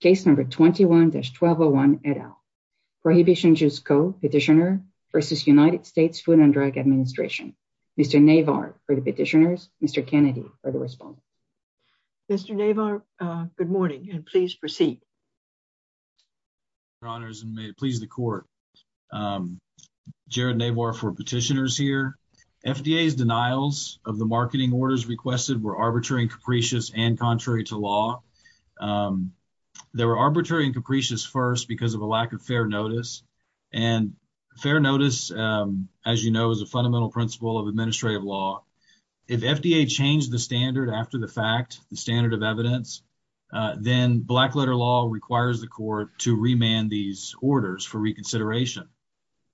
Case number 21-1201 et al. Prohibition Juice Co. petitioner versus United States Food and Drug Administration. Mr. Navar for the petitioners. Mr. Kennedy for the respondent. Mr. Navar, good morning and please proceed. Your honors and may it please the court. Jared Navar for petitioners here. FDA's denials of the marketing orders requested were arbitrary and capricious and contrary to law. They were arbitrary and capricious first because of a lack of fair notice. And fair notice, as you know, is a fundamental principle of administrative law. If FDA changed the standard after the fact, the standard of evidence, then black letter law requires the court to remand these orders for reconsideration.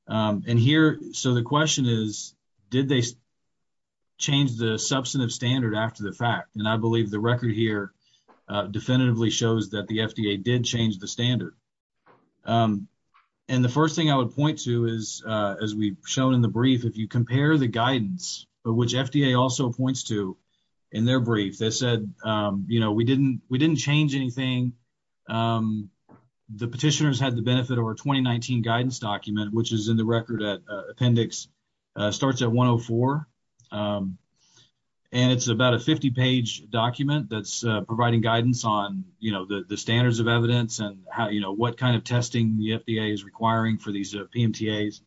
And here, so the question is, did they change the substantive standard after the fact? And I believe the record here definitively shows that the FDA did change the standard. And the first thing I would point to is, as we've shown in the brief, if you compare the guidance, which FDA also points to in their brief, they said, you know, we didn't we didn't change anything. The petitioners had the benefit of our 2019 guidance document, which is in the record at starts at one oh four. And it's about a 50 page document that's providing guidance on, you know, the standards of evidence and how you know what kind of testing the FDA is requiring for these PMTAs.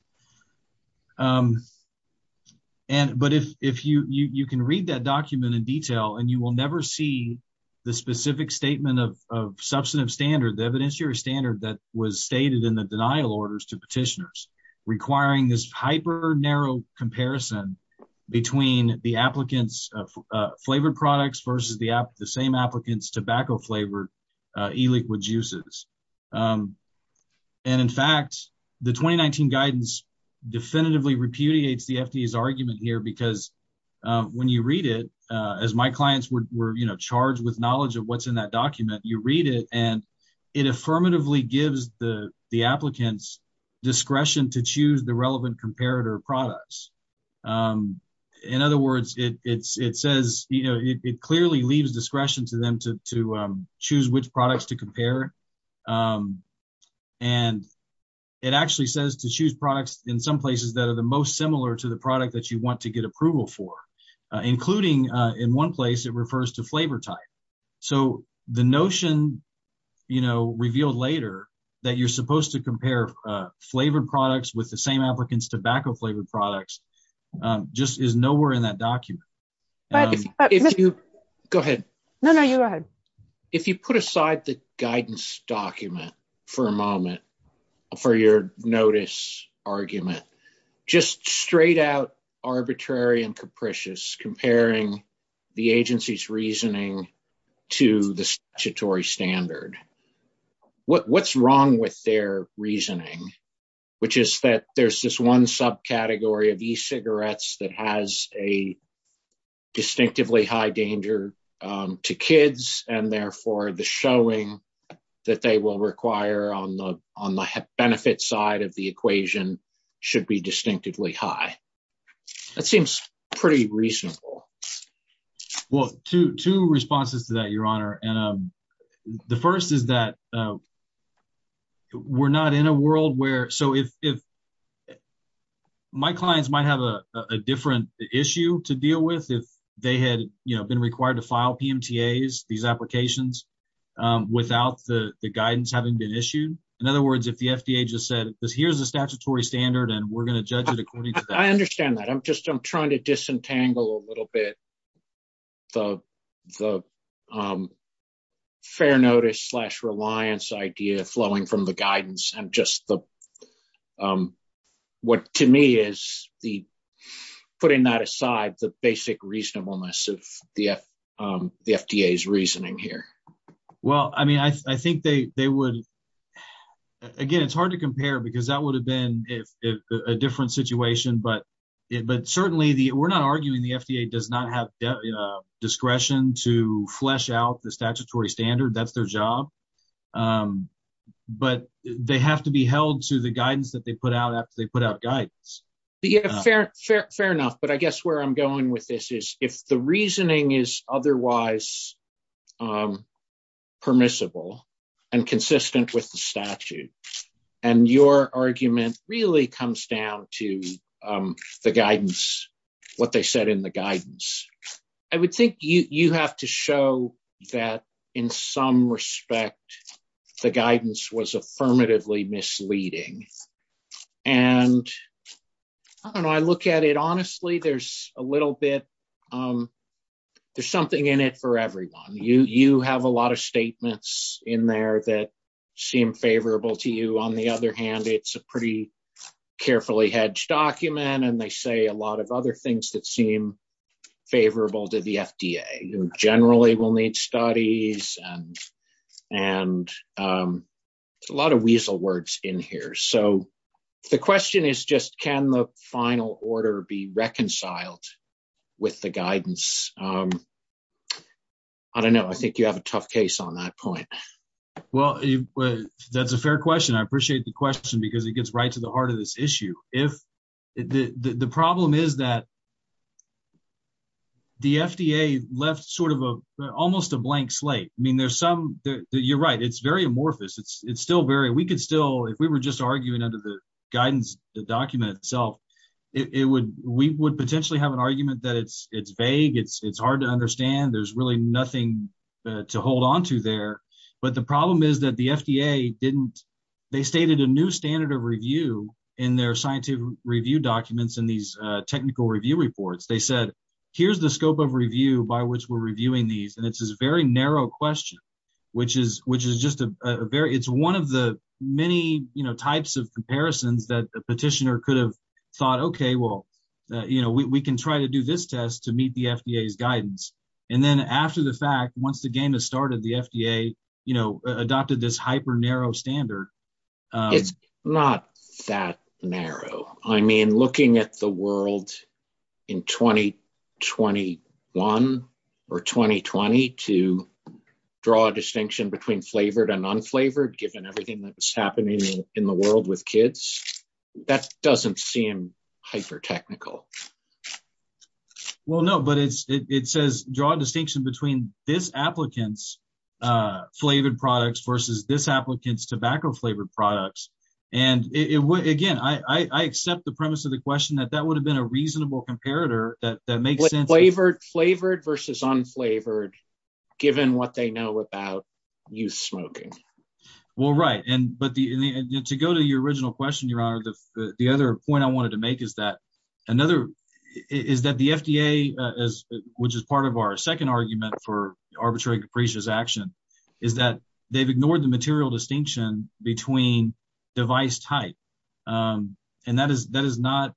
And but if if you you can read that document in detail and you will never see the specific statement of substantive standard, the evidence your standard that was stated in denial orders to petitioners requiring this hyper narrow comparison between the applicants flavored products versus the the same applicants tobacco flavored e-liquid juices. And in fact, the 2019 guidance definitively repudiates the FDA's argument here, because when you read it, as my clients were charged with knowledge of what's in that document, you read it and it affirmatively gives the applicants discretion to choose the relevant comparator products. In other words, it's it says, you know, it clearly leaves discretion to them to choose which products to compare. And it actually says to choose products in some places that are the most similar to the product that you want to get approval for, including in one place it refers to flavor type. So the notion, you know, revealed later that you're supposed to compare flavored products with the same applicants tobacco flavored products just is nowhere in that document. But if you go ahead. No, no, you go ahead. If you put aside the guidance document for a moment for your notice argument, just straight out arbitrary and capricious comparing the agency's reasoning to the statutory standard. What's wrong with their reasoning, which is that there's this one subcategory of e-cigarettes that has a distinctively high danger to kids and therefore the showing that they will require on the benefit side of the equation should be distinctively high. That seems pretty reasonable. Well, two responses to that, Your Honor. And the first is that we're not in a world where so if my clients might have a different issue to deal with if they had been required to file PMTAs, applications without the guidance having been issued. In other words, if the FDA just said, here's the statutory standard and we're going to judge it according to that. I understand that. I'm just I'm trying to disentangle a little bit. The fair notice slash reliance idea flowing from the guidance and just the what to me is the putting that aside the basic reasonableness of the FDA's reasoning here. Well, I mean, I think they would. Again, it's hard to compare because that would have been a different situation. But certainly we're not arguing the FDA does not have discretion to flesh out the statutory standard. That's their job. But they have to be held to the guidance that they put out after they put out guidance. Fair enough. But I guess where I'm going with this is if the reasoning is otherwise permissible and consistent with the statute and your argument really comes down to the guidance, what they said in the guidance, I would think you have to show that in some respect, the guidance was affirmatively misleading. And I look at it, honestly, there's a little bit there's something in it for everyone. You have a lot of statements in there that seem favorable to you. On the other hand, it's a pretty carefully hedged document. And they say a lot of other things that seem favorable to the FDA generally will need studies and a lot of weasel words in here. So the question is just can the final order be reconciled with the guidance? I don't know. I think you have a tough case on that point. Well, that's a fair question. I appreciate the question because it gets right to the heart of this issue. The problem is that the FDA left almost a blank slate. You're right, it's very amorphous. If we were just arguing under the guidance document itself, we would potentially have an argument that it's vague. It's hard to understand. There's really nothing to hold their scientific review documents in these technical review reports. They said, here's the scope of review by which we're reviewing these. And it's this very narrow question, which is just a very, it's one of the many types of comparisons that a petitioner could have thought, okay, well, we can try to do this test to meet the FDA's guidance. And then after the fact, once the game has started, the FDA adopted this hyper narrow standard. It's not that narrow. I mean, looking at the world in 2021 or 2020 to draw a distinction between flavored and unflavored, given everything that was happening in the world with kids, that doesn't seem hyper technical. Well, no, but it says draw a distinction between this applicant's flavored products versus this applicant's tobacco flavored products. And again, I accept the premise of the question that that would have been a reasonable comparator that makes sense. Flavored versus unflavored, given what they know about youth smoking. Well, right. And to go to your original question, Your Honor, the other point I wanted to make is that the FDA, which is part of our second argument for arbitrary capricious action, is that they've ignored the material distinction between device type. And that is not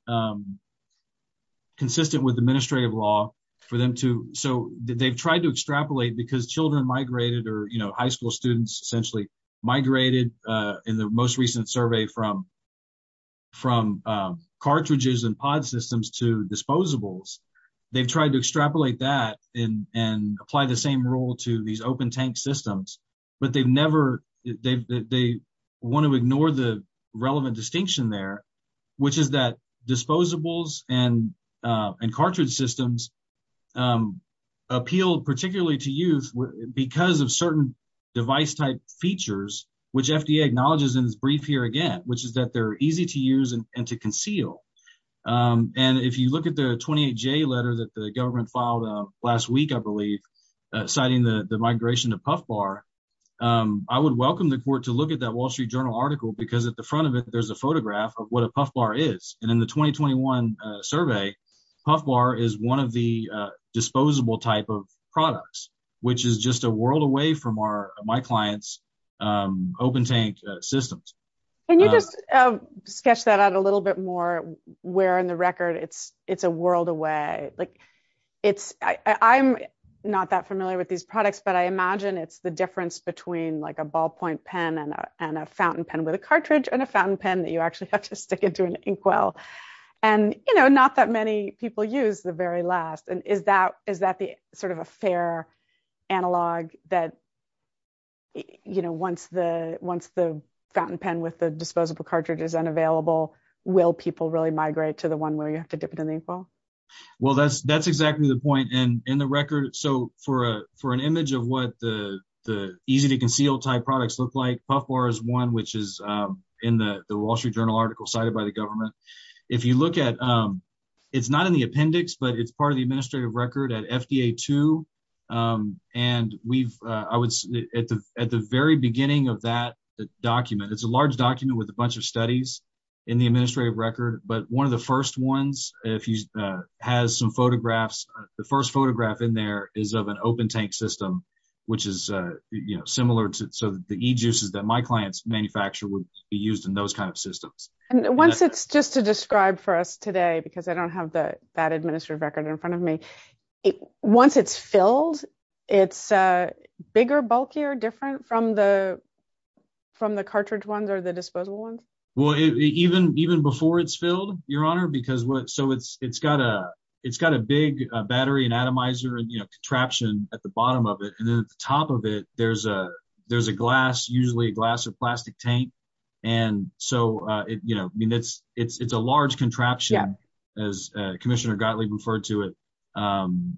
consistent with administrative law for them to, so they've tried to extrapolate because children migrated or high school students essentially migrated in the most recent survey from cartridges and pod systems to disposables. They've tried to extrapolate that and apply the same rule to these open tank systems, but they want to ignore the relevant distinction there, which is that disposables and cartridge systems appeal particularly to youth because of certain device type features, which FDA acknowledges in this brief here again, which is that they're easy to use and to conceal. And if you look at the 28J letter that the government filed last week, I believe, citing the migration to Puff Bar, I would welcome the court to look at that Wall Street Journal article because at the front of it, there's a photograph of what a Puff Bar is. And in the 2021 survey, Puff Bar is one of the disposable type of products, which is just a reference to my client's open tank systems. Can you just sketch that out a little bit more, where in the record, it's a world away. I'm not that familiar with these products, but I imagine it's the difference between a ballpoint pen and a fountain pen with a cartridge and a fountain pen that you actually have to stick into an inkwell. And not that many people use the last. And is that the sort of a fair analog that, you know, once the fountain pen with the disposable cartridge is unavailable, will people really migrate to the one where you have to dip it in the inkwell? Well, that's exactly the point. And in the record, so for an image of what the easy to conceal type products look like, Puff Bar is one which is in the Wall Street Journal article cited by the government. If you look at, it's not in the appendix, but it's part of the administrative record at FDA too. And we've, I was at the very beginning of that document, it's a large document with a bunch of studies in the administrative record. But one of the first ones, if he has some photographs, the first photograph in there is of an open tank system, which is, you know, similar to the e-juices that my clients manufacture would be used in those systems. And once it's, just to describe for us today, because I don't have that administrative record in front of me, once it's filled, it's bigger, bulkier, different from the cartridge ones or the disposable ones? Well, even before it's filled, Your Honor, because what, so it's got a big battery and atomizer and, you know, contraption at the bottom of it. And then at the top of it, there's a glass, usually a glass or plastic tank. And so, you know, I mean, it's a large contraption as Commissioner Gottlieb referred to it,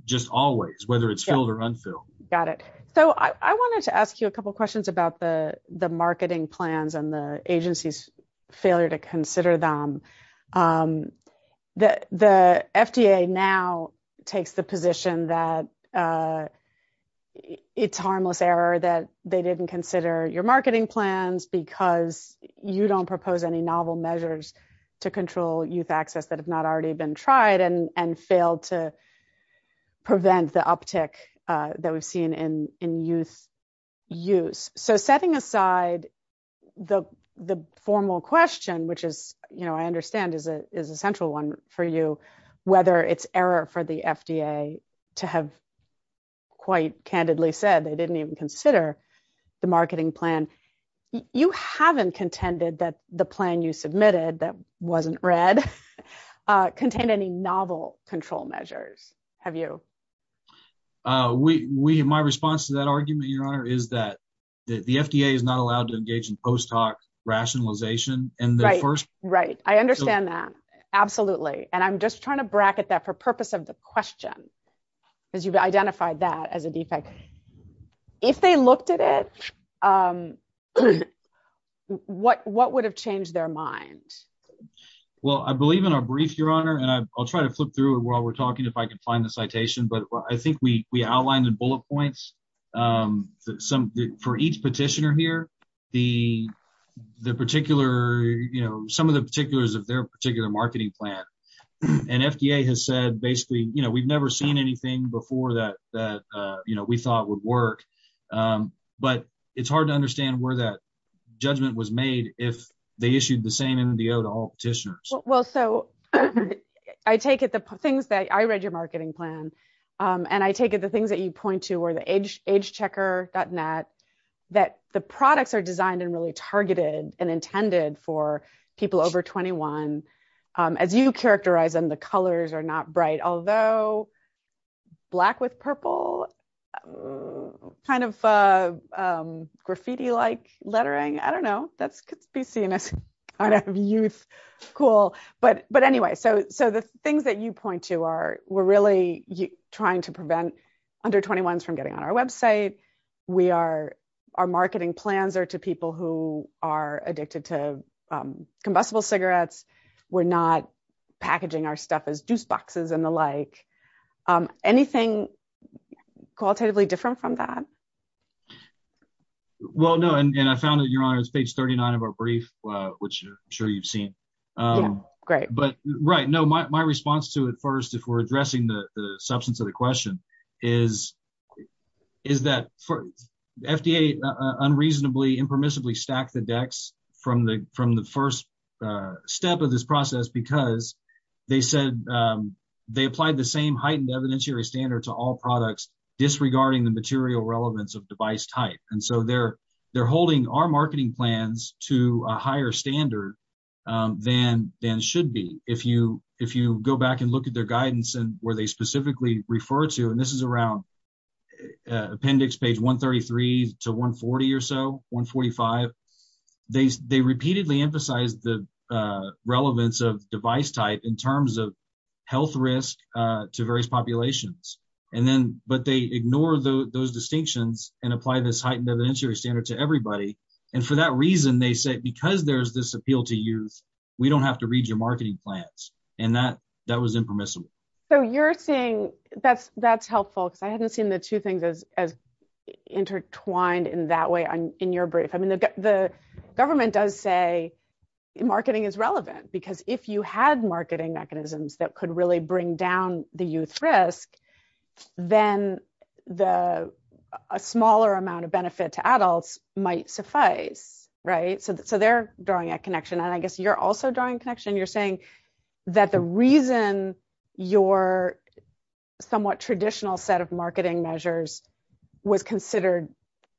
just always, whether it's filled or unfilled. Got it. So I wanted to ask you a couple of questions about the marketing plans and the agency's failure to consider them. The FDA now takes the position that it's harmless error that they didn't consider your marketing plans because you don't propose any novel measures to control youth access that have not already been tried and failed to prevent the uptick that we've seen in youth use. So setting aside the formal question, which is, you know, I understand is a central one for you, whether it's error for the FDA to have quite candidly said they didn't even consider the marketing plan. You haven't contended that the plan you submitted that wasn't read contained any novel control measures. Have you? We, we, my response to that argument, Your Honor, is that the FDA is not allowed to engage in post hoc rationalization in the first. Right. I understand that. Absolutely. And I'm just trying to bracket that for purpose of the question because you've identified that as a defect. If they looked at it, what, what would have changed their mind? Well, I believe in our brief, Your Honor, and I'll try to flip through it while we're talking, if I can find the citation, but I think we, we outlined the bullet points, some for each petitioner here, the, the particular, you know, some of the particulars of their particular marketing plan and FDA has said, basically, you know, we've never seen anything before that, that, you know, we thought would work. But it's hard to understand where that judgment was made. If they issued the same NDO to all petitioners. Well, so I take it, the things that I read your marketing plan and I take it, the things that you point to where the age age checker gotten that, that the products are designed and really targeted and intended for people over 21 as you characterize them, the colors are not bright, although black with purple kind of graffiti-like lettering. I don't know. That's could be seen as kind of youth. Cool. But, but anyway, so, so the things that you point to are, we're really trying to prevent under 21s from getting on our website. We are, our marketing plans are to people who are addicted to combustible cigarettes. We're not packaging our stuff as juice boxes and the like anything qualitatively different from that. Well, no. And I found that you're on page 39 of our brief, which I'm sure you've seen. Great. But right. No, my, my response to it first, if we're addressing the substance of the question is, is that FDA unreasonably impermissibly stack the decks from the, from the first step of this they applied the same heightened evidentiary standard to all products, disregarding the material relevance of device type. And so they're, they're holding our marketing plans to a higher standard than, than should be. If you, if you go back and look at their guidance and where they specifically refer to, and this is around appendix page 133 to 140 or so 145, they, they repeatedly emphasize the relevance of device type in terms of health risk to various populations. And then, but they ignore those distinctions and apply this heightened evidentiary standard to everybody. And for that reason, they said, because there's this appeal to youth, we don't have to read your marketing plans. And that, that was impermissible. So you're saying that's, that's helpful. Cause I hadn't seen the two things as, as say marketing is relevant because if you had marketing mechanisms that could really bring down the youth risk, then the, a smaller amount of benefit to adults might suffice, right? So, so they're drawing a connection. And I guess you're also drawing connection. You're saying that the reason your somewhat traditional set of marketing measures was considered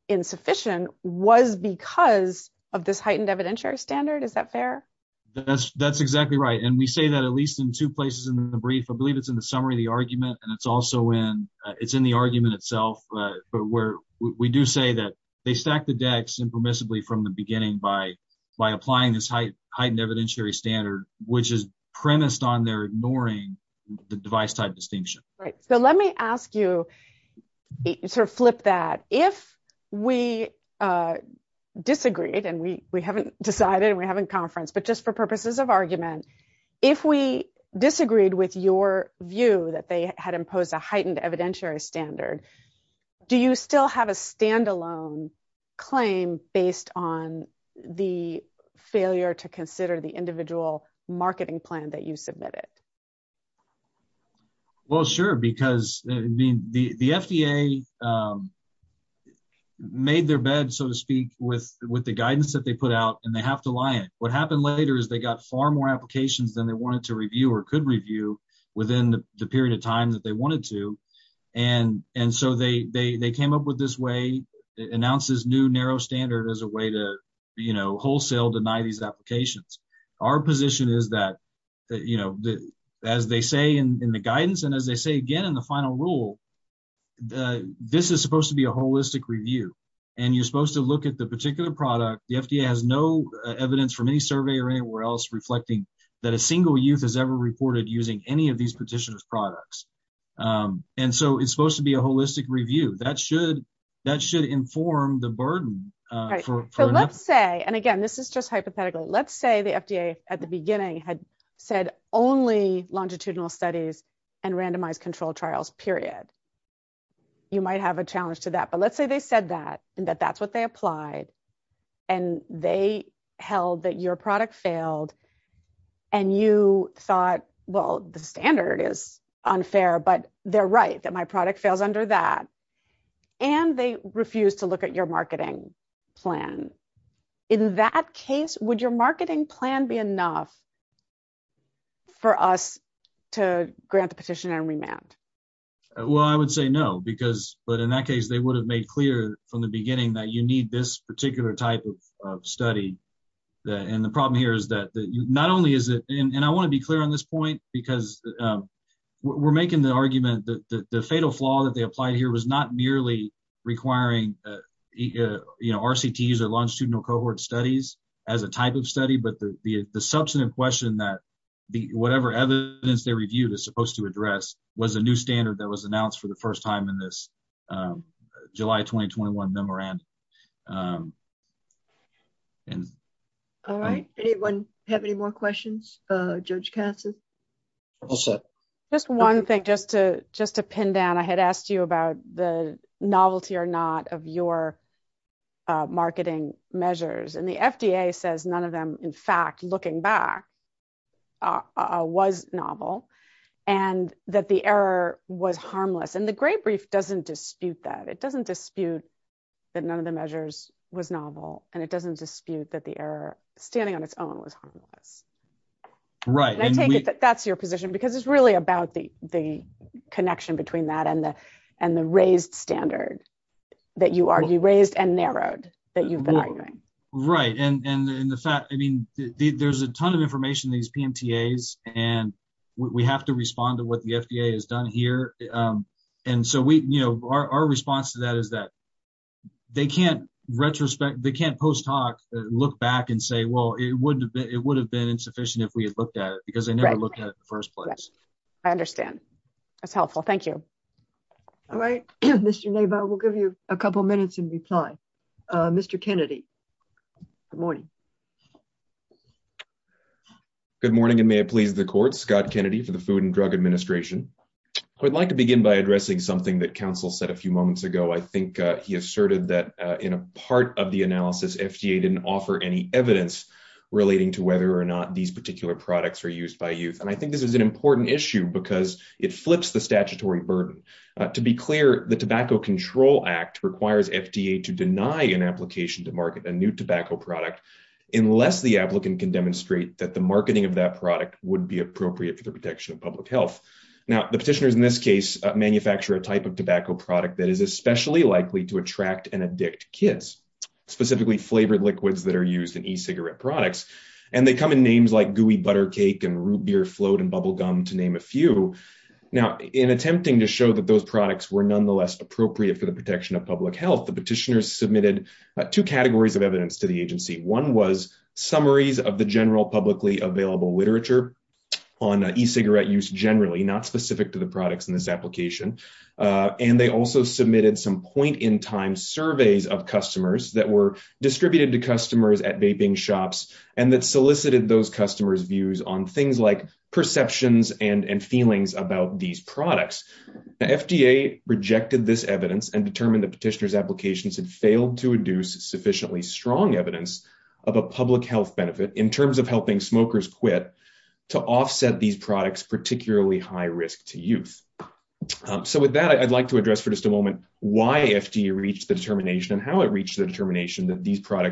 insufficient was because of this heightened evidentiary standard. Is that fair? That's, that's exactly right. And we say that at least in two places in the brief, I believe it's in the summary of the argument. And it's also in, it's in the argument itself, but where we do say that they stack the decks impermissibly from the beginning by, by applying this heightened evidentiary standard, which is premised on their ignoring the device type distinction. Right. So let me ask you sort of flip that if we disagreed and we, we haven't decided and we haven't conferenced, but just for purposes of argument, if we disagreed with your view that they had imposed a heightened evidentiary standard, do you still have a standalone claim based on the failure to consider the individual marketing plan that you submitted? Well, sure. Because the, the, the FDA made their bed, so to speak with, with the guidance that they put out and they have to lie. And what happened later is they got far more applications than they wanted to review or could review within the period of time that they wanted to. And, and so they, they, they came up with this way announces new narrow standard as a way to, you know, is that, you know, as they say in the guidance and as they say, again, in the final rule, this is supposed to be a holistic review and you're supposed to look at the particular product. The FDA has no evidence from any survey or anywhere else reflecting that a single youth has ever reported using any of these petitioners products. And so it's supposed to be a holistic review that should, that should inform the burden. So let's say, and again, this is just let's say the FDA at the beginning had said only longitudinal studies and randomized control trials, period. You might have a challenge to that, but let's say they said that and that that's what they applied and they held that your product failed and you thought, well, the standard is unfair, but they're right that my product fails under that. And they refuse to look at your marketing plan be enough for us to grant the petition and remand. Well, I would say no, because, but in that case, they would have made clear from the beginning that you need this particular type of study. And the problem here is that not only is it, and I want to be clear on this point because we're making the argument that the fatal flaw that they applied here was not merely requiring RCTs or longitudinal cohort studies as a type of study, but the, the, the substantive question that the, whatever evidence they reviewed is supposed to address was a new standard that was announced for the first time in this, um, July, 2021 memorandum. Um, and. All right. Anyone have any more questions? Uh, judge Kasson, just one thing just to, just to pin down, I had asked you about the novelty or not of your, uh, marketing measures and the FDA says, none of them, in fact, looking back, uh, uh, was novel and that the error was harmless. And the great brief doesn't dispute that. It doesn't dispute that none of the measures was novel and it doesn't dispute that the error standing on its own was harmless. Right. And I take it that that's your position because it's really about the, the connection between that and the, and the raised standard that you argue raised and narrowed that you've been arguing. Right. And, and, and the fact, I mean, there's a ton of information, these PMTAs, and we have to respond to what the FDA has done here. Um, and so we, you know, our, our response to that is that they can't retrospect, they can't post-hoc look back and say, well, it wouldn't have been, it would have been insufficient if we had looked at it because they That's helpful. Thank you. All right. Mr. Nava, we'll give you a couple of minutes in reply. Mr. Kennedy. Good morning. Good morning. And may it please the court, Scott Kennedy for the food and drug administration. I would like to begin by addressing something that council said a few moments ago. I think he asserted that, uh, in a part of the analysis, FDA didn't offer any evidence relating to whether or not these particular products are used by youth. And I think this is an important issue because it flips the statutory burden. Uh, to be clear, the tobacco control act requires FDA to deny an application to market a new tobacco product, unless the applicant can demonstrate that the marketing of that product would be appropriate for the protection of public health. Now the petitioners in this case, uh, manufacture a type of tobacco product that is especially likely to attract and addict kids, specifically flavored liquids that are used in e-cigarette products. And they come in names like gooey butter cake and root beer float and bubble gum, to name a few. Now in attempting to show that those products were nonetheless appropriate for the protection of public health, the petitioners submitted two categories of evidence to the agency. One was summaries of the general publicly available literature on e-cigarette use generally, not specific to the products in this application. Uh, and they also submitted some point in time surveys of customers that were distributed to customers at vaping shops and that solicited those customers views on things like perceptions and, and feelings about these products. Now FDA rejected this evidence and determined the petitioner's applications had failed to induce sufficiently strong evidence of a public health benefit in terms of helping smokers quit to offset these products, particularly high risk to youth. Um, so with that, I'd like to address for just a moment why FDA reached the determination and how it reached the determination that these one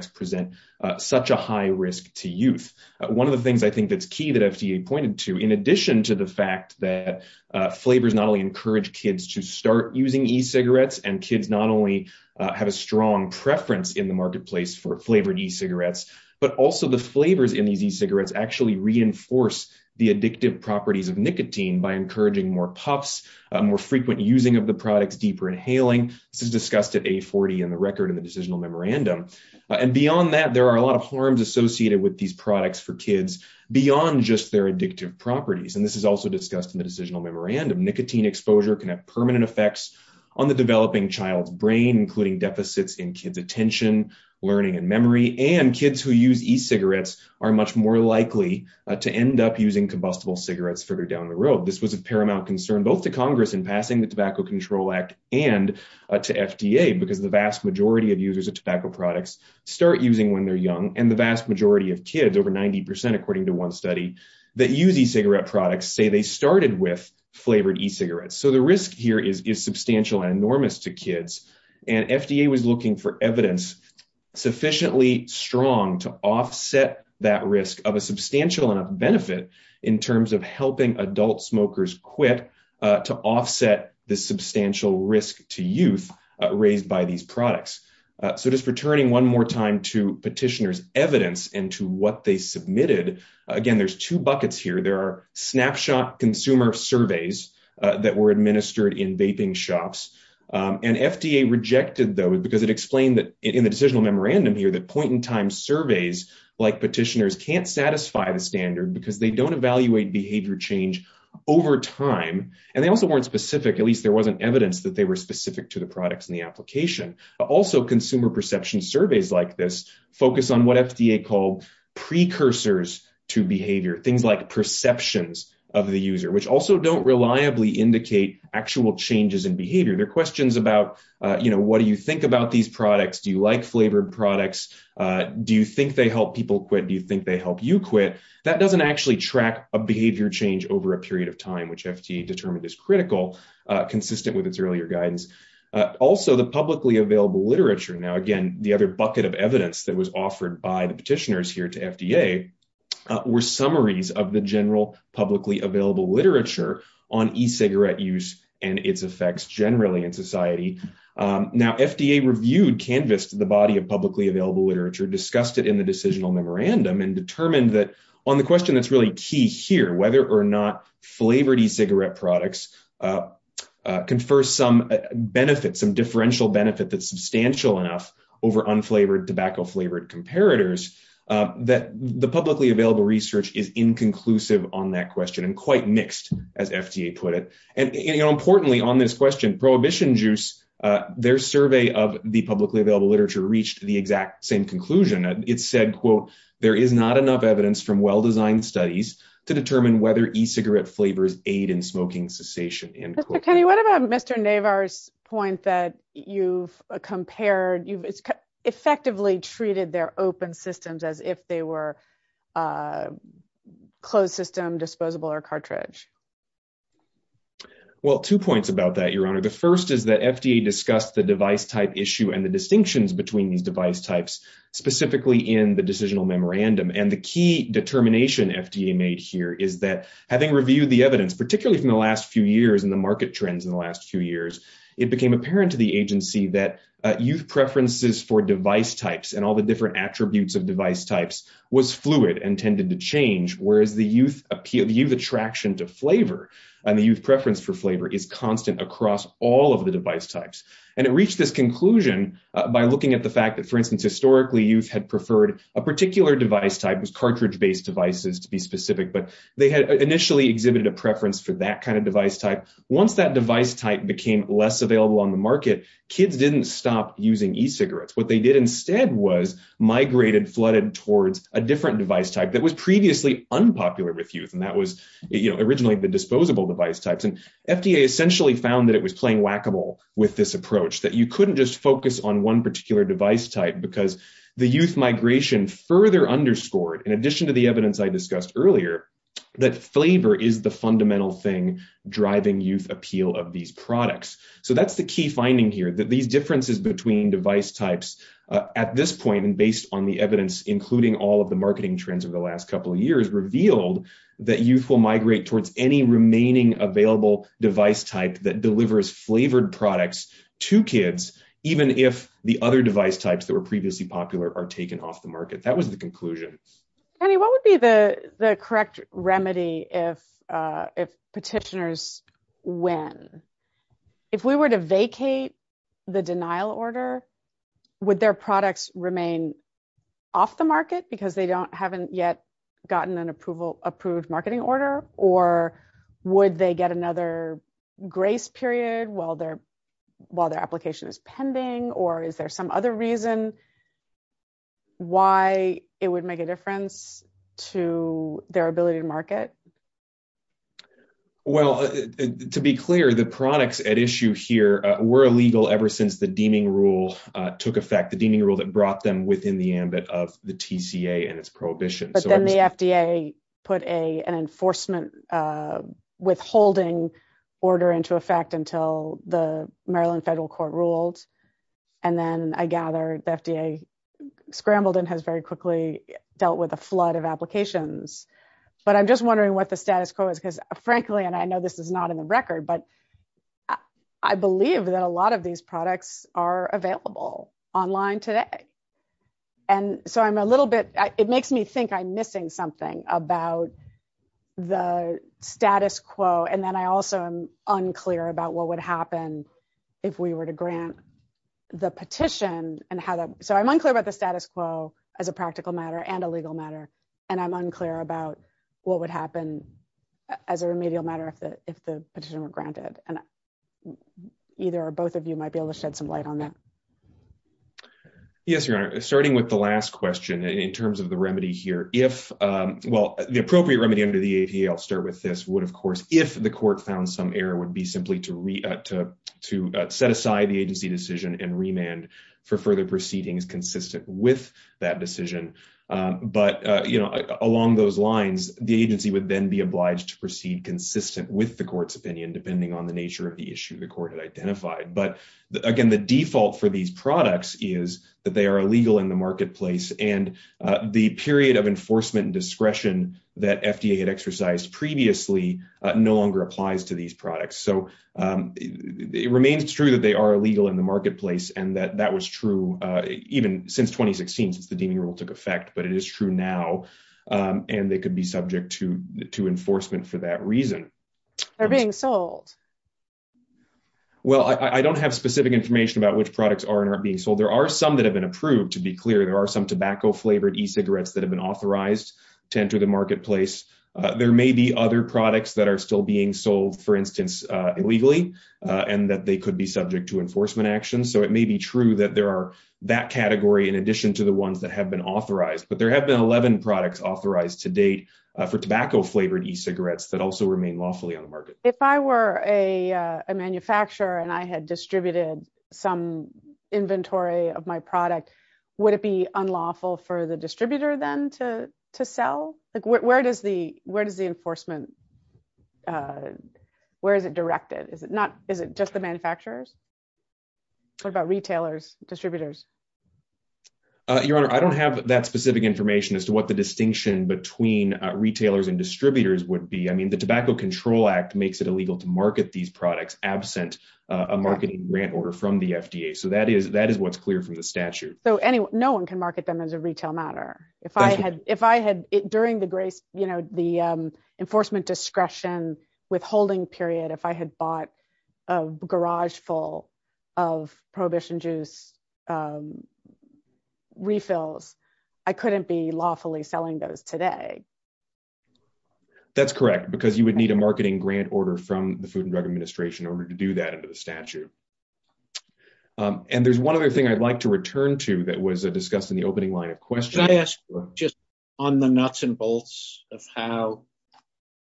of the things I think that's key that FDA pointed to in addition to the fact that, uh, flavors not only encourage kids to start using e-cigarettes and kids not only have a strong preference in the marketplace for flavored e-cigarettes, but also the flavors in these e-cigarettes actually reinforce the addictive properties of nicotine by encouraging more puffs, more frequent using of the products, deeper inhaling. This is discussed at a 40 in the record in the decisional memorandum. And beyond that, there are a lot of harms associated with these products for kids beyond just their addictive properties. And this is also discussed in the decisional memorandum. Nicotine exposure can have permanent effects on the developing child's brain, including deficits in kids' attention, learning, and memory, and kids who use e-cigarettes are much more likely to end up using combustible cigarettes further down the road. This was a paramount concern, both to Congress in passing the Tobacco Control Act and to FDA because the vast majority of users of tobacco products start using when they're young and the vast majority of kids, over 90% according to one study, that use e-cigarette products say they started with flavored e-cigarettes. So the risk here is substantial and enormous to kids and FDA was looking for evidence sufficiently strong to offset that risk of a substantial enough benefit in terms of helping adult smokers quit to offset the substantial risk to youth raised by these products. So just returning one more time to petitioners' evidence and to what they submitted, again, there's two buckets here. There are snapshot consumer surveys that were administered in vaping shops and FDA rejected those because it explained that in the decisional memorandum here that point in time surveys like petitioners can't satisfy the standard because they don't evaluate behavior change over time. And they also weren't specific, at least there were specific to the products in the application. But also consumer perception surveys like this focus on what FDA called precursors to behavior, things like perceptions of the user, which also don't reliably indicate actual changes in behavior. They're questions about, you know, what do you think about these products? Do you like flavored products? Do you think they help people quit? Do you think they help you quit? That doesn't actually track a behavior change over a period of time, which FDA determined is critical, consistent with its earlier guidance. Also, the publicly available literature. Now, again, the other bucket of evidence that was offered by the petitioners here to FDA were summaries of the general publicly available literature on e-cigarette use and its effects generally in society. Now, FDA reviewed, canvassed the body of publicly available literature, discussed it in the decisional memorandum, and determined that on the question that's really key here, whether or not flavored e-cigarette products confer some benefit, some differential benefit that's substantial enough over unflavored tobacco flavored comparators, that the publicly available research is inconclusive on that question and quite mixed, as FDA put it. And, you know, importantly on this question, Prohibition Juice, their survey of the publicly available literature reached the exact same conclusion. It said, quote, there is not enough evidence from well-designed studies to determine whether e-cigarette flavors aid in smoking cessation, end quote. So, Kenny, what about Mr. Navar's point that you've compared, you've effectively treated their open systems as if they were closed system, disposable, or cartridge? Well, two points about that, Your Honor. The first is that FDA discussed the device type issue and the distinctions between these device types specifically in the decisional memorandum. And the key determination FDA made here is that having reviewed the evidence, particularly from the last few years and the market trends in the last few years, it became apparent to the agency that youth preferences for device types and all the different attributes of device types was fluid and tended to change, whereas the youth attraction to flavor and the youth preference for flavor is constant across all of the device types. And it reached this conclusion by looking at the fact that, for instance, historically youth had preferred a particular device type, was cartridge-based devices to be specific, but they had initially exhibited a preference for that kind of device type. Once that device type became less available on the market, kids didn't stop using e-cigarettes. What they did instead was migrated, flooded towards a different device type that was previously unpopular with youth. And that was, you know, originally the disposable device types. And FDA essentially found that it was playing whack-a-mole with this approach, that you couldn't just focus on one particular device type because the youth migration further underscored, in addition to the evidence I discussed earlier, that flavor is the fundamental thing driving youth appeal of these products. So that's the key finding here, that these differences between device types at this point and based on the evidence, including all of the marketing trends over the last couple of years, revealed that youth will migrate towards any remaining available device type that delivers flavored products to kids, even if the other device types that were previously popular are taken off the market. That was the conclusion. Penny, what would be the correct remedy if petitioners win? If we were to vacate the denial order, would their products remain off the market because they haven't yet gotten an approved marketing order? Or would they get another grace period while their application is pending? Or is there some other reason why it would make a difference to their ability to market? Well, to be clear, the products at issue here were illegal ever since the deeming rule took effect, the deeming rule that brought them within the ambit of the TCA and its prohibition. But then the FDA put an enforcement withholding order into effect until the Maryland federal court ruled. And then I gather the FDA scrambled and has very quickly dealt with a flood of applications. But I'm just wondering what the status quo is, because frankly, and I know this is not in the record, but I believe that a lot of these products are available online today. And so I'm a little bit, it makes me think I'm missing something about the status quo. And then I also am unclear about what would happen if we were to grant the petition and how that, so I'm unclear about the status quo as a practical matter and a legal matter. And I'm unclear about what would happen as a remedial matter if the petition were granted. And either or both of you might be able to shed some light on that. Yes, Your Honor, starting with the last question in terms of the remedy here, if, well, the appropriate remedy under the APA, I'll start with this, would of course, if the court found some error would be simply to set aside the agency decision and remand for further proceedings consistent with that decision. But along those lines, the agency would then be obliged to proceed consistent with the court's opinion, depending on the nature of the issue the court had identified. But again, the default for these products is that they are illegal in the marketplace and the period of enforcement and discretion that FDA had exercised previously no longer applies to these products. So it remains true that they are illegal in the marketplace and that that was true even since 2016, since the deeming rule took effect, but it is true now. And they could be They're being sold. Well, I don't have specific information about which products are and are being sold. There are some that have been approved. To be clear, there are some tobacco flavored e-cigarettes that have been authorized to enter the marketplace. There may be other products that are still being sold, for instance, illegally, and that they could be subject to enforcement action. So it may be true that there are that category in addition to the ones that have been authorized. But there have been 11 products authorized to date for tobacco flavored e-cigarettes that also remain lawfully on the market. If I were a manufacturer and I had distributed some inventory of my product, would it be unlawful for the distributor then to sell? Where does the enforcement, where is it directed? Is it just the manufacturers? What about retailers, distributors? Your Honor, I don't have that specific information as to what the distinction between retailers and distributors would be. I mean, the Tobacco Control Act makes it illegal to market these products absent a marketing grant order from the FDA. So that is that is what's clear from the statute. So no one can market them as a retail matter. If I had, if I had during the grace, you know, the enforcement discretion withholding period, if I had bought a garage full of Prohibition Juice refills, I couldn't be lawfully selling those today. That's correct, because you would need a marketing grant order from the Food and Drug Administration in order to do that under the statute. And there's one other thing I'd like to return to that was discussed in the opening line of question. Can I ask just on the nuts and bolts of how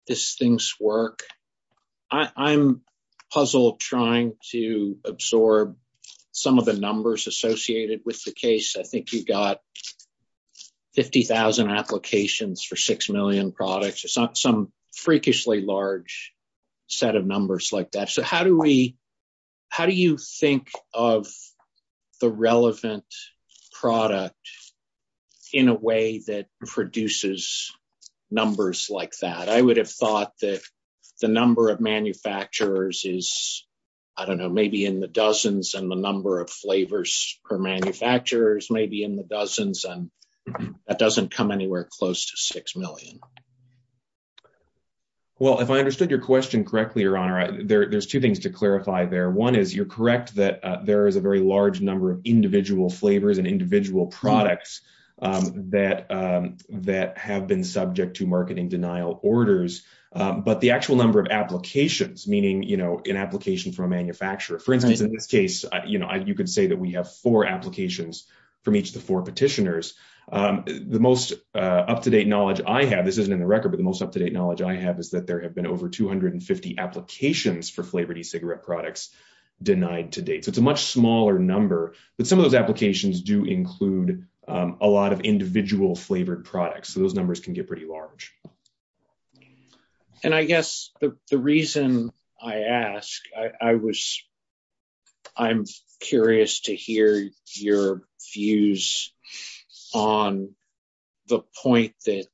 these things work? I'm puzzled trying to absorb some of the numbers associated with the case. I think you've got 50,000 applications for 6 million products, some freakishly large set of numbers like that. So how do we, how do you think of the relevant product in a way that produces numbers like that? I would have thought that the number of manufacturers is, I don't know, maybe in the dozens and the number of flavors per manufacturer is maybe in the dozens. And that doesn't come anywhere close to 6 million. Well, if I understood your question correctly, Your Honor, there's two things to clarify there. One is you're correct that there is a very large number of individual flavors and individual products that have been subject to marketing denial orders. But the actual number of applications, meaning an application from a manufacturer, for instance, in this case, you could say that we have four applications from each of the four petitioners. The most up-to-date knowledge I have, this isn't in the record, but the most up-to-date knowledge I have is that there have been over 250 applications for much smaller number, but some of those applications do include a lot of individual flavored products. So those numbers can get pretty large. And I guess the reason I asked, I was, I'm curious to hear your views on the point that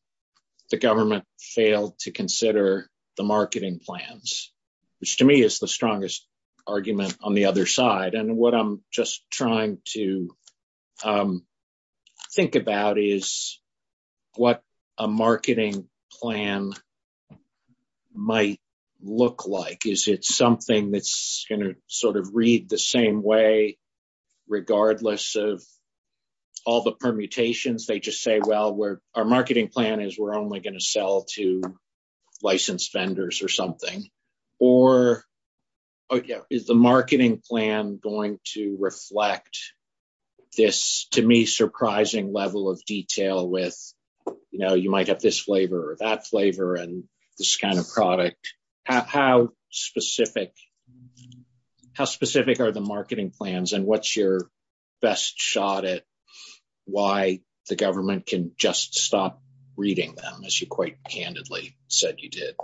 the government failed to consider the marketing plans, which to me is the strongest argument on the other side. And what I'm just trying to think about is what a marketing plan might look like. Is it something that's going to sort of read the same way, regardless of all the permutations? They just say, well, our marketing plan is we're only going to sell to licensed vendors or something, or is the marketing plan going to reflect this, to me, surprising level of detail with, you know, you might have this flavor or that flavor and this kind of product. How specific How specific are the marketing plans and what's your best shot at why the government can just stop reading them as you quite candidly said you did?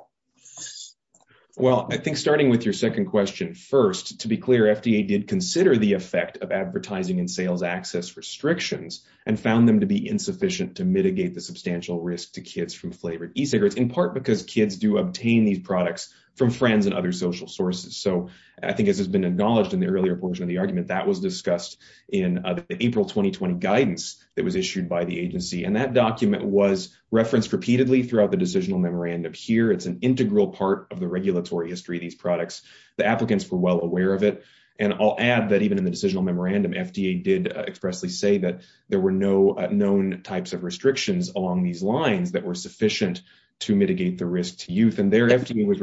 Well, I think starting with your second question first, to be clear, FDA did consider the effect of advertising and sales access restrictions and found them to be insufficient to mitigate the substantial risk to kids from flavored e-cigarettes in part, because kids do obtain these products from friends and other sources. So I think as has been acknowledged in the earlier portion of the argument, that was discussed in the April 2020 guidance that was issued by the agency. And that document was referenced repeatedly throughout the decisional memorandum here. It's an integral part of the regulatory history of these products. The applicants were well aware of it. And I'll add that even in the decisional memorandum, FDA did expressly say that there were no known types of restrictions along these lines that were sufficient to mitigate the risk to youth and their FDA was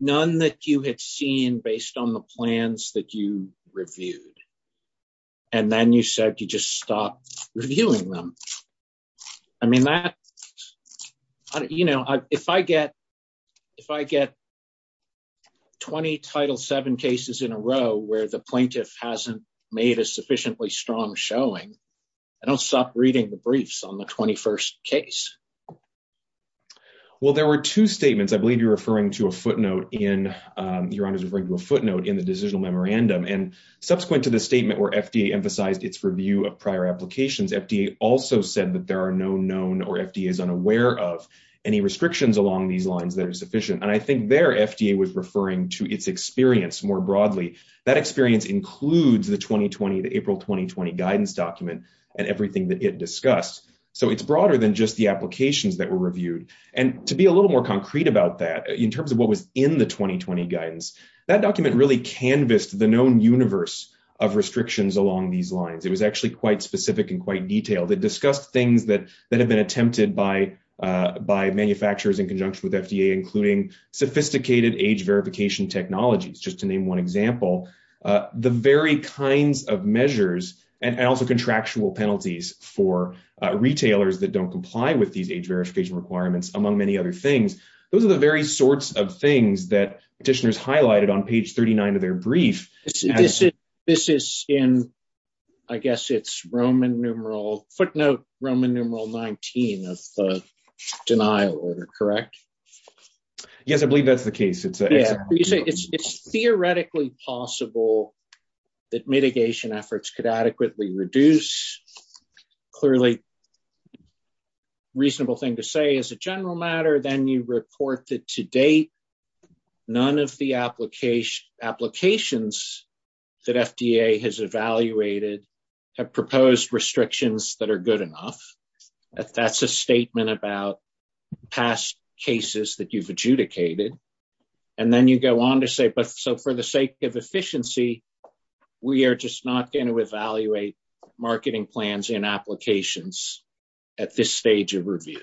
none that you had seen based on the plans that you reviewed. And then you said you just stopped reviewing them. I mean, that, you know, if I get if I get 20 title seven cases in a row where the plaintiff hasn't made a sufficiently strong showing, I don't stop reading the briefs on the case. Well, there were two statements. I believe you're referring to a footnote in your honor's referring to a footnote in the decisional memorandum. And subsequent to the statement where FDA emphasized its review of prior applications, FDA also said that there are no known or FDA is unaware of any restrictions along these lines that are sufficient. And I think their FDA was referring to its experience more broadly. That experience includes the 2020, April 2020 guidance document and everything that it discussed. So it's broader than just the applications that were reviewed. And to be a little more concrete about that in terms of what was in the 2020 guidance, that document really canvassed the known universe of restrictions along these lines. It was actually quite specific and quite detailed. It discussed things that that have been attempted by by manufacturers in conjunction with FDA, including sophisticated age verification technologies, just to name one example, the very kinds of measures and also contractual penalties for retailers that don't comply with these age verification requirements, among many other things. Those are the very sorts of things that petitioners highlighted on page 39 of their brief. This is in, I guess it's Roman numeral footnote, Roman numeral 19 of the order, correct? Yes, I believe that's the case. It's theoretically possible that mitigation efforts could adequately reduce clearly reasonable thing to say as a general matter. Then you report that to date, none of the application applications that FDA has evaluated have proposed restrictions that are good enough. That's a statement about past cases that you've adjudicated. And then you go on to say, but so for the sake of efficiency, we are just not going to evaluate marketing plans and applications at this stage of review,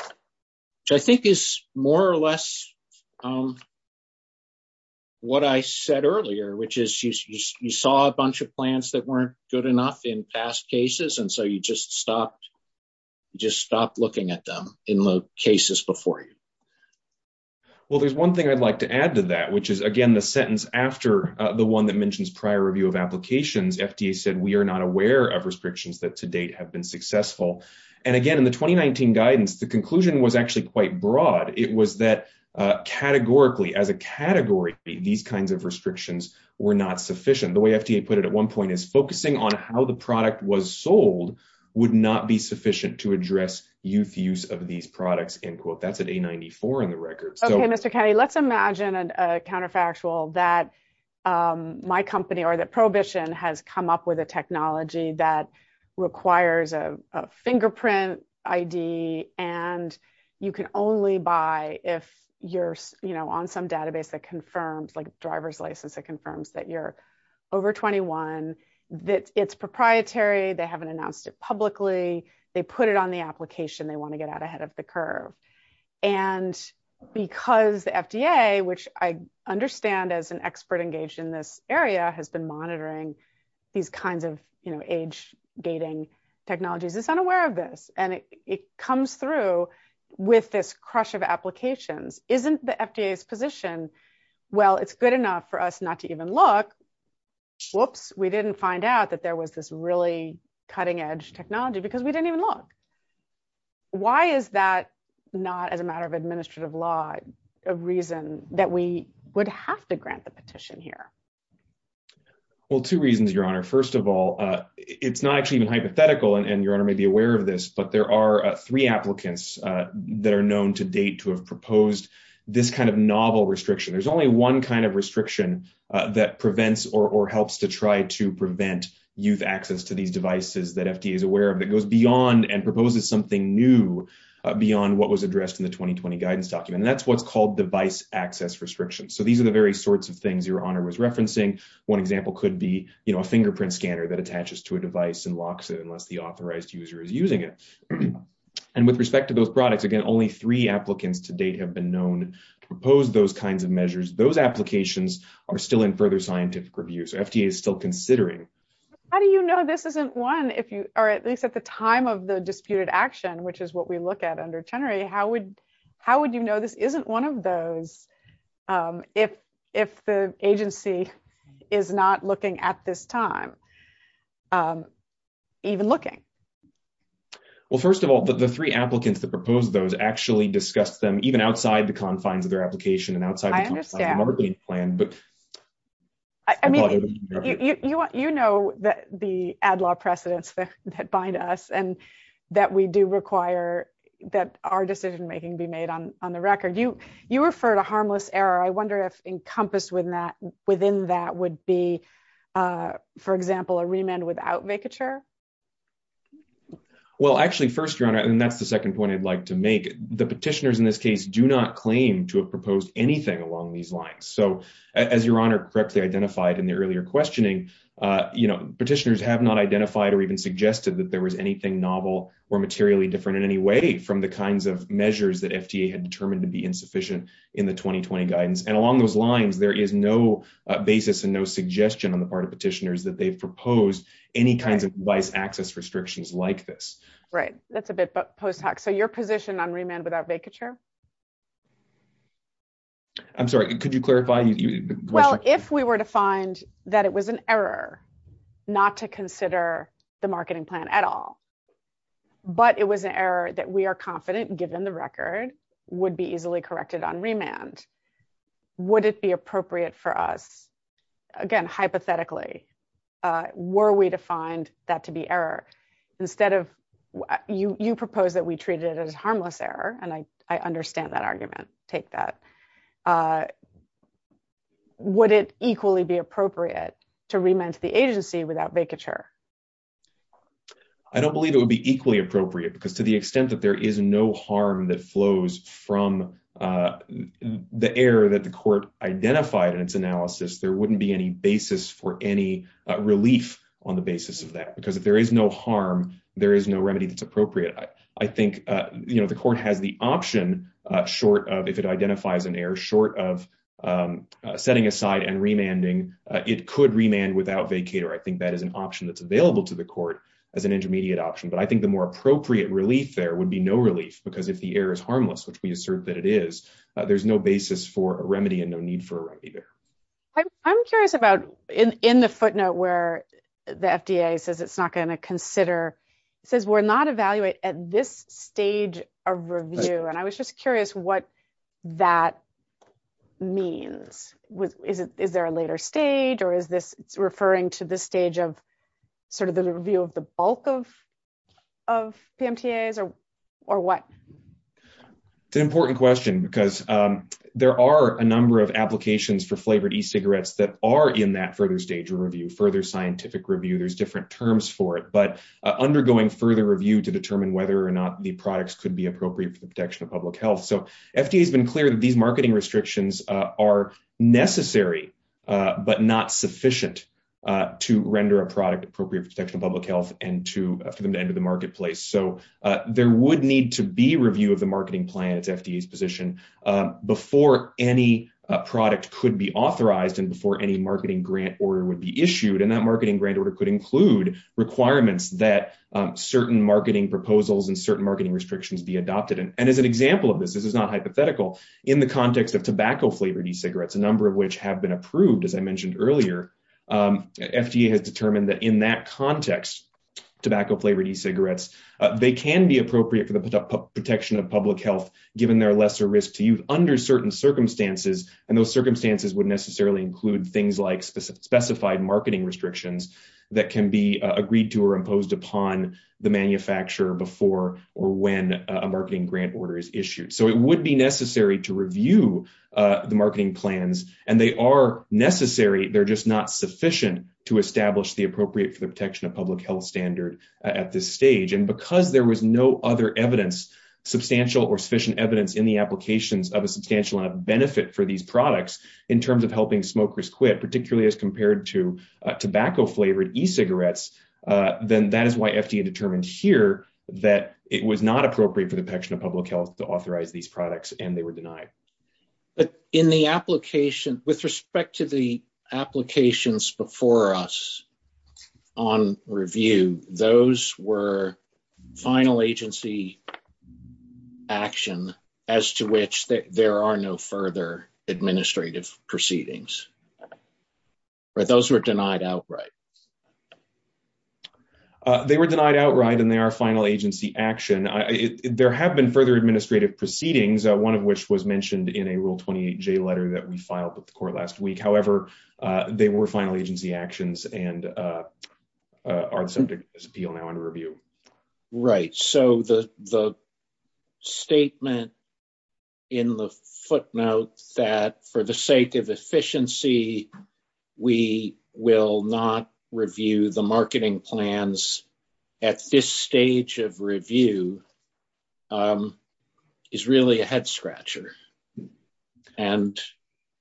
which I think is more or less what I said earlier, which is you saw a bunch of plans that weren't good enough in past cases. And so you just stopped, just stopped looking at them in the cases before you. Well, there's one thing I'd like to add to that, which is again, the sentence after the one that mentions prior review of applications, FDA said, we are not aware of restrictions that to date have been successful. And again, in the 2019 guidance, the conclusion was actually quite broad. It was that categorically as a category, these kinds of restrictions were not sufficient. The way FDA put it at one point is focusing on how the product was sold would not be sufficient to address youth use of these products. That's an A94 in the record. Okay, Mr. Cady, let's imagine a counterfactual that my company or that Prohibition has come up with a technology that requires a fingerprint ID. And you can only buy if you're on some database that confirms like driver's license, it confirms that you're over 21, that it's proprietary. They haven't announced it publicly. They put it on the application. They want to get out ahead of the curve. And because the FDA, which I understand as an expert engaged in this area has been monitoring these kinds of age dating technologies is unaware of this. And it comes through with this crush of applications, isn't the FDA's position? Well, it's good enough for us not to even look. Whoops, we didn't find out that there was this really cutting edge technology because we didn't even look. Why is that not as a matter of administrative law, a reason that we would have to grant the petition here? Well, two reasons, Your Honor. First of all, it's not actually even hypothetical, and Your Honor may be aware of this, but there are three applicants that are known to date to have proposed this kind of novel restriction. There's only one kind of restriction that prevents or helps to try to prevent youth access to these devices that FDA is aware of that goes beyond and proposes something new beyond what was addressed in the 2020 guidance document. And that's what's called device access restrictions. So these are the very sorts of things that Your Honor was referencing. One example could be a fingerprint scanner that attaches to a device and locks it unless the authorized user is using it. And with respect to those products, again, only three applicants to date have been known to propose those kinds of measures. Those applications are still in further scientific review, so FDA is still considering. How do you know this isn't one, or at least at the time of the disputed action, which is what we look at under Chenery, how would you know this isn't one of those if the agency is not looking at this time, even looking? Well, first of all, the three applicants that proposed those actually discussed them even outside the confines of their application and outside the confines of the marketing plan. You know the ad law precedents that bind us and that we do require that our decision making be on the record. You refer to harmless error. I wonder if encompassed within that would be, for example, a remand without vacature? Well, actually, first, Your Honor, and that's the second point I'd like to make. The petitioners in this case do not claim to have proposed anything along these lines. So as Your Honor correctly identified in the earlier questioning, petitioners have not identified or even suggested that there was anything novel or materially different in any way from the kinds of measures that FDA had determined to be insufficient in the 2020 guidance. And along those lines, there is no basis and no suggestion on the part of petitioners that they've proposed any kinds of device access restrictions like this. Right. That's a bit post hoc. So your position on remand without vacature? I'm sorry, could you clarify? Well, if we were to find that it was an error not to consider the marketing plan at all, but it was an error that we are confident given the record would be easily corrected on remand, would it be appropriate for us? Again, hypothetically, were we to find that to be error instead of you propose that we treat it as harmless error? And I understand that argument. Take that. Would it equally be appropriate to remand the agency without vacature? I don't believe it would be equally appropriate because to the extent that there is no harm that flows from the error that the court identified in its analysis, there wouldn't be any basis for any relief on the basis of that, because if there is no harm, there is no remedy that's appropriate. I think the court has the option short of if it identifies an error short of setting aside and remanding, it could remand without vacature. I think that is an option that's available to the court as an intermediate option. But I think the more appropriate relief there would be no relief because if the error is harmless, which we assert that it is, there's no basis for a remedy and no need for a remedy there. I'm curious about in the footnote where the FDA says it's not going to consider, says we're not evaluate at this stage of review. And I was just curious what that means. Is there a later stage or is this referring to this stage of sort of the review of the bulk of PMTAs or what? It's an important question because there are a number of applications for flavored e-cigarettes that are in that further stage of review, further scientific review. There's different terms for it, but undergoing further review to determine whether or not the products could be appropriate for the protection of public health. So FDA has been clear that these marketing restrictions are necessary, but not sufficient to render a product appropriate for protection of public health and for them to enter the marketplace. So there would need to be review of the marketing plan, it's FDA's position, before any product could be authorized and before any marketing grant order would be issued. And that marketing grant order could include requirements that certain marketing proposals and certain marketing restrictions be adopted. And as an tobacco-flavored e-cigarettes, a number of which have been approved, as I mentioned earlier, FDA has determined that in that context, tobacco-flavored e-cigarettes, they can be appropriate for the protection of public health, given their lesser risk to use under certain circumstances. And those circumstances would necessarily include things like specified marketing restrictions that can be agreed to or imposed upon the manufacturer before or when a marketing grant order is issued. So it would be necessary to review the marketing plans, and they are necessary, they're just not sufficient to establish the appropriate for the protection of public health standard at this stage. And because there was no other evidence, substantial or sufficient evidence in the applications of a substantial enough benefit for these products, in terms of helping smokers quit, particularly as compared to tobacco-flavored e-cigarettes, then that is why FDA determined here that it was not appropriate for the protection of public health to authorize these products, and they were denied. But in the application, with respect to the applications before us on review, those were final agency action as to which there are no further administrative proceedings, right? Those were denied outright. They were denied outright, and they are final agency action. There have been further administrative proceedings, one of which was mentioned in a Rule 28J letter that we filed with the court last week. However, they were final agency actions and are the subject of this appeal on review. Right. So, the statement in the footnote that for the sake of efficiency, we will not review the marketing plans at this stage of review is really a head-scratcher. And,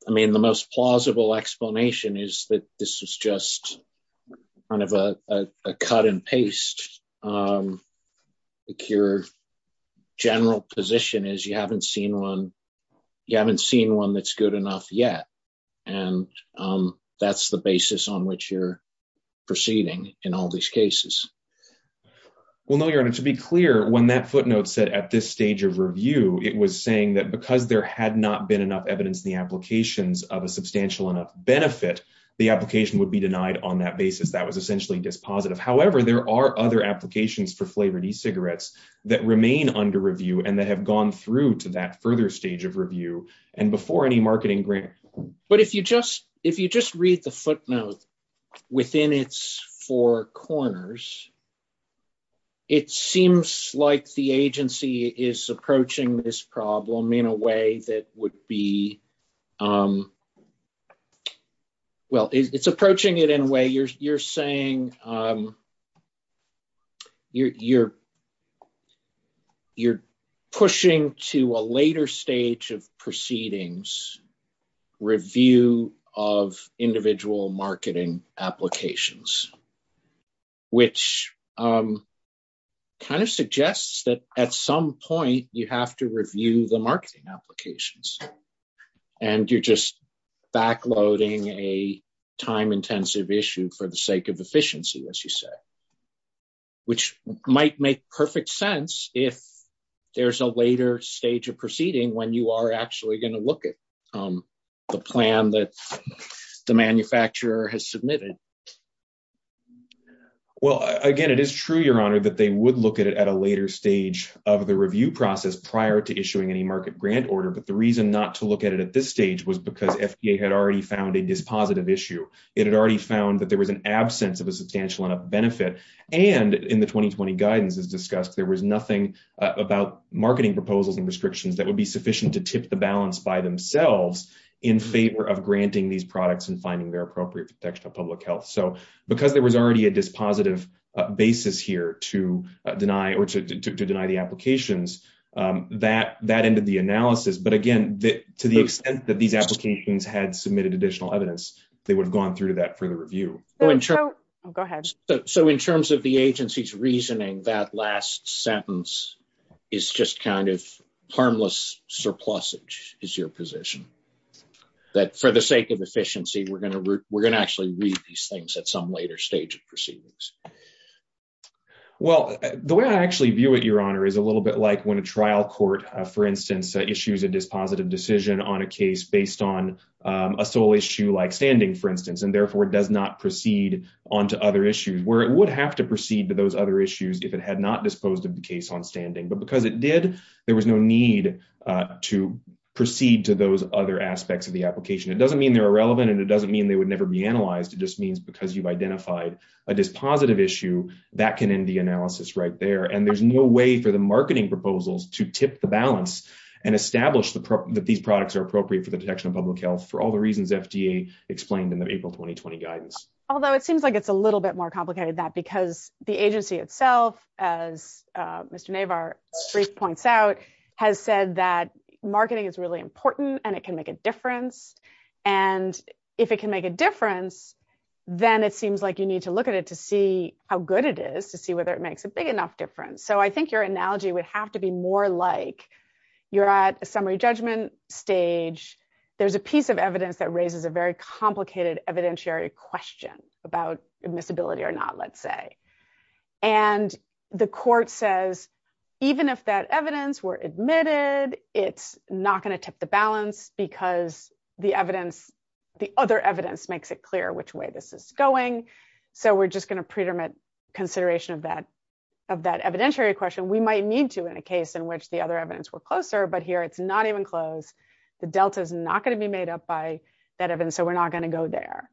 I mean, the most plausible explanation is that this is just kind of a cut-and-paste. Like, your general position is you haven't seen one that's good enough yet, and that's the basis on which you're proceeding in all these cases. Well, no, Your Honor, to be clear, when that there had not been enough evidence in the applications of a substantial enough benefit, the application would be denied on that basis. That was essentially dispositive. However, there are other applications for flavored e-cigarettes that remain under review and that have gone through to that further stage of review and before any marketing grant. But if you just read the footnote within its four corners, it seems like the agency is approaching this problem in a way that would be, well, it's approaching it in a way you're saying you're pushing to a later stage of proceedings review of individual marketing applications, which kind of suggests that at some point you have to review the marketing applications, and you're just backloading a time-intensive issue for the sake of efficiency, as you say, which might make perfect sense if there's a later stage of proceeding when you are the manufacturer has submitted. Well, again, it is true, Your Honor, that they would look at it at a later stage of the review process prior to issuing any market grant order. But the reason not to look at it at this stage was because FDA had already found a dispositive issue. It had already found that there was an absence of a substantial enough benefit. And in the 2020 guidance as discussed, there was nothing about marketing proposals and restrictions that would sufficient to tip the balance by themselves in favor of granting these products and finding their appropriate protection of public health. So because there was already a dispositive basis here to deny the applications, that ended the analysis. But again, to the extent that these applications had submitted additional evidence, they would have gone through to that for the review. So in terms of the agency's reasoning, that last sentence is just kind of surplusage is your position, that for the sake of efficiency, we're going to we're going to actually read these things at some later stage of proceedings. Well, the way I actually view it, Your Honor, is a little bit like when a trial court, for instance, issues a dispositive decision on a case based on a sole issue like standing, for instance, and therefore does not proceed onto other issues where it would have to proceed to those other issues if it had not disposed of case on standing. But because it did, there was no need to proceed to those other aspects of the application. It doesn't mean they're irrelevant and it doesn't mean they would never be analyzed. It just means because you've identified a dispositive issue that can end the analysis right there. And there's no way for the marketing proposals to tip the balance and establish that these products are appropriate for the detection of public health for all the reasons FDA explained in the April 2020 guidance. Although it seems like it's a little bit more complicated that because the agency itself, as Mr. Navar brief points out, has said that marketing is really important and it can make a difference. And if it can make a difference, then it seems like you need to look at it to see how good it is to see whether it makes a big enough difference. So I think your analogy would have to be more like you're at a summary judgment stage. There's a piece of evidence that raises a very complicated evidentiary question about admissibility or not, let's say. And the court says, even if that evidence were admitted, it's not going to tip the balance because the evidence, the other evidence makes it clear which way this is going. So we're just going to predetermine consideration of that evidentiary question. We might need to in a case in which the other evidence were closer, but here it's not even close. The delta is not going to be made up by that evidence. So we're not going to go there.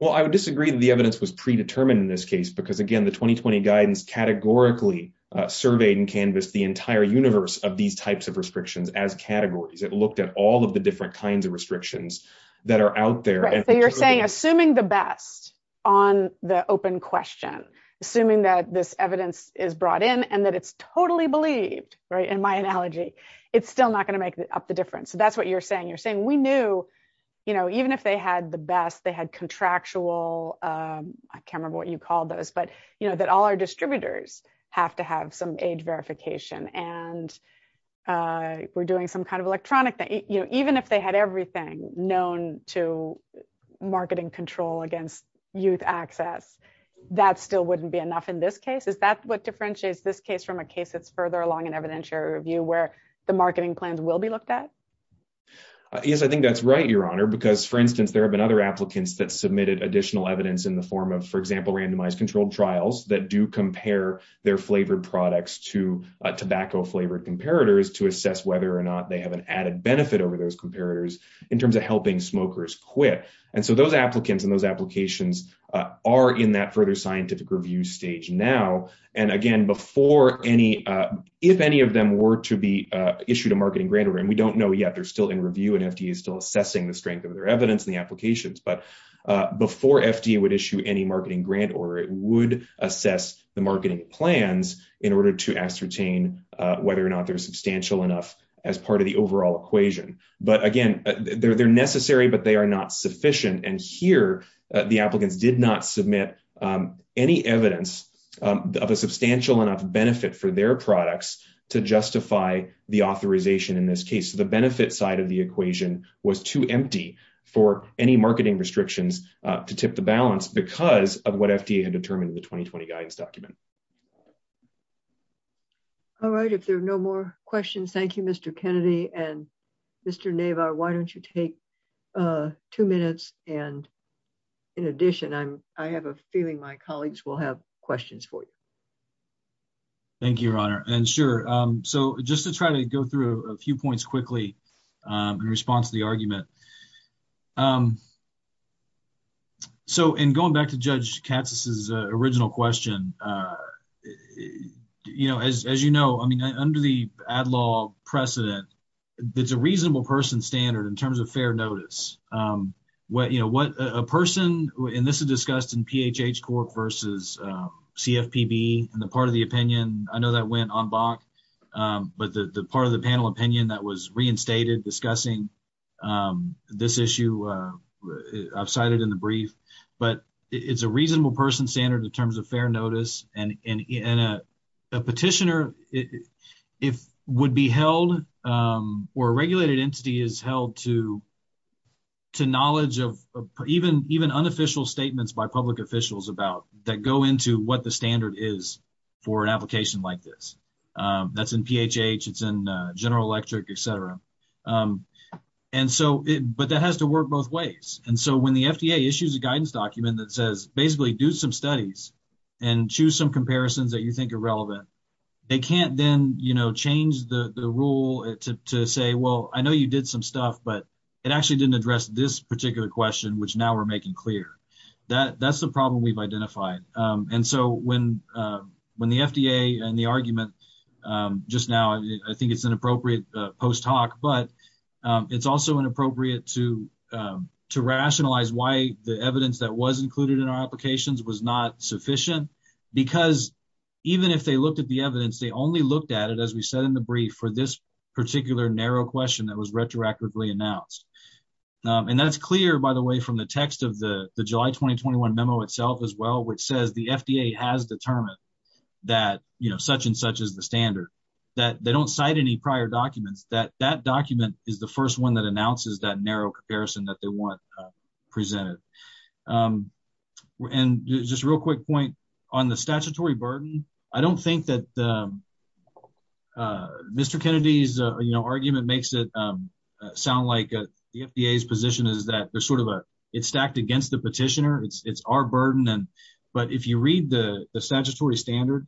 Well, I would disagree that the evidence was predetermined in this case, because again, the 2020 guidance categorically surveyed and canvassed the entire universe of these types of restrictions as categories. It looked at all of the different kinds of restrictions that are out there. So you're saying, assuming the best on the open question, assuming that this evidence is brought in and that it's totally believed, right, in my analogy, it's still not going to make up the difference. So that's what you're saying. We knew even if they had the best, they had contractual, I can't remember what you called those, but that all our distributors have to have some age verification and we're doing some kind of electronic thing. Even if they had everything known to marketing control against youth access, that still wouldn't be enough in this case. Is that what differentiates this case from a case that's further along in evidentiary review where the marketing plans will be looked at? Yes, I think that's right, Your Honor, because for instance, there have been other applicants that submitted additional evidence in the form of, for example, randomized controlled trials that do compare their flavored products to tobacco flavored comparators to assess whether or not they have an added benefit over those comparators in terms of helping smokers quit. And so those applicants and those applications are in that further scientific review stage now. And again, if any of them were to be issued a marketing grant, and we don't know yet, they're still in review and FDA is still assessing the strength of their evidence in the applications. But before FDA would issue any marketing grant or it would assess the marketing plans in order to ascertain whether or not they're substantial enough as part of the overall equation. But again, they're necessary, but they are not sufficient. And here, the applicants did not submit any evidence of a substantial enough benefit for their products to justify the authorization in this case. The benefit side of the equation was too empty for any marketing restrictions to tip the balance because of what FDA had determined in the 2020 guidance document. All right. If there are no more questions, thank you, Mr. Kennedy and Mr. Navar. Why don't you take two minutes? And in addition, I have a feeling my Thank you, Your Honor. And sure. So just to try to go through a few points quickly in response to the argument. So in going back to Judge Katz's original question, you know, as you know, I mean, under the ad law precedent, it's a reasonable person standard in terms of fair notice. What, you know, what a person in this is discussed in PHH Corp versus CFPB. And the part of the opinion, I know that went on BOC, but the part of the panel opinion that was reinstated discussing this issue, I've cited in the brief. But it's a reasonable person standard in terms of fair notice. And a petitioner would be held, or a regulated entity is held to what the standard is for an application like this. That's in PHH. It's in General Electric, et cetera. And so, but that has to work both ways. And so when the FDA issues a guidance document that says basically do some studies and choose some comparisons that you think are relevant, they can't then, you know, change the rule to say, well, I know you did some stuff, but it actually didn't address this particular question, which now we're making clear. That's the problem we've identified. And so when the FDA and the argument just now, I think it's inappropriate post-talk, but it's also inappropriate to rationalize why the evidence that was included in our applications was not sufficient. Because even if they looked at the evidence, they only looked at it, as we said in the brief, for this particular narrow question that was retroactively announced. And that's clear, by the way, from the text of the July 2021 memo itself as well, which says the FDA has determined that, you know, such and such is the standard, that they don't cite any prior documents, that that document is the first one that announces that narrow comparison that they want presented. And just a real quick point on the statutory burden. I don't think that Mr. Kennedy's, you know, argument makes it sound like the FDA's position is that there's sort of a, it's stacked against the petitioner, it's our burden, and but if you read the statutory standard,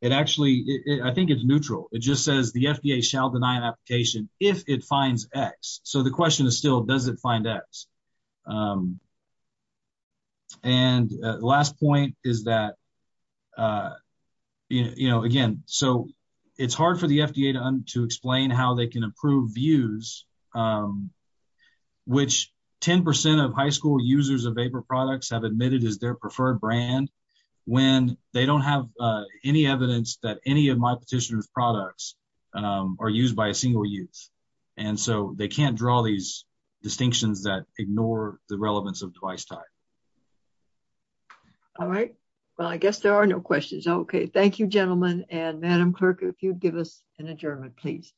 it actually, I think it's neutral. It just says the FDA shall deny an application if it finds X. So the question is still, does it find X? And last point is that, you know, again, so it's hard for the FDA to explain how they can approve views, which 10% of high school users of vapor products have admitted is their preferred brand, when they don't have any evidence that any of my petitioner's products are used by a the relevance of device type. All right. Well, I guess there are no questions. Okay. Thank you, gentlemen. And Madam Clerk, if you'd give us an adjournment, please.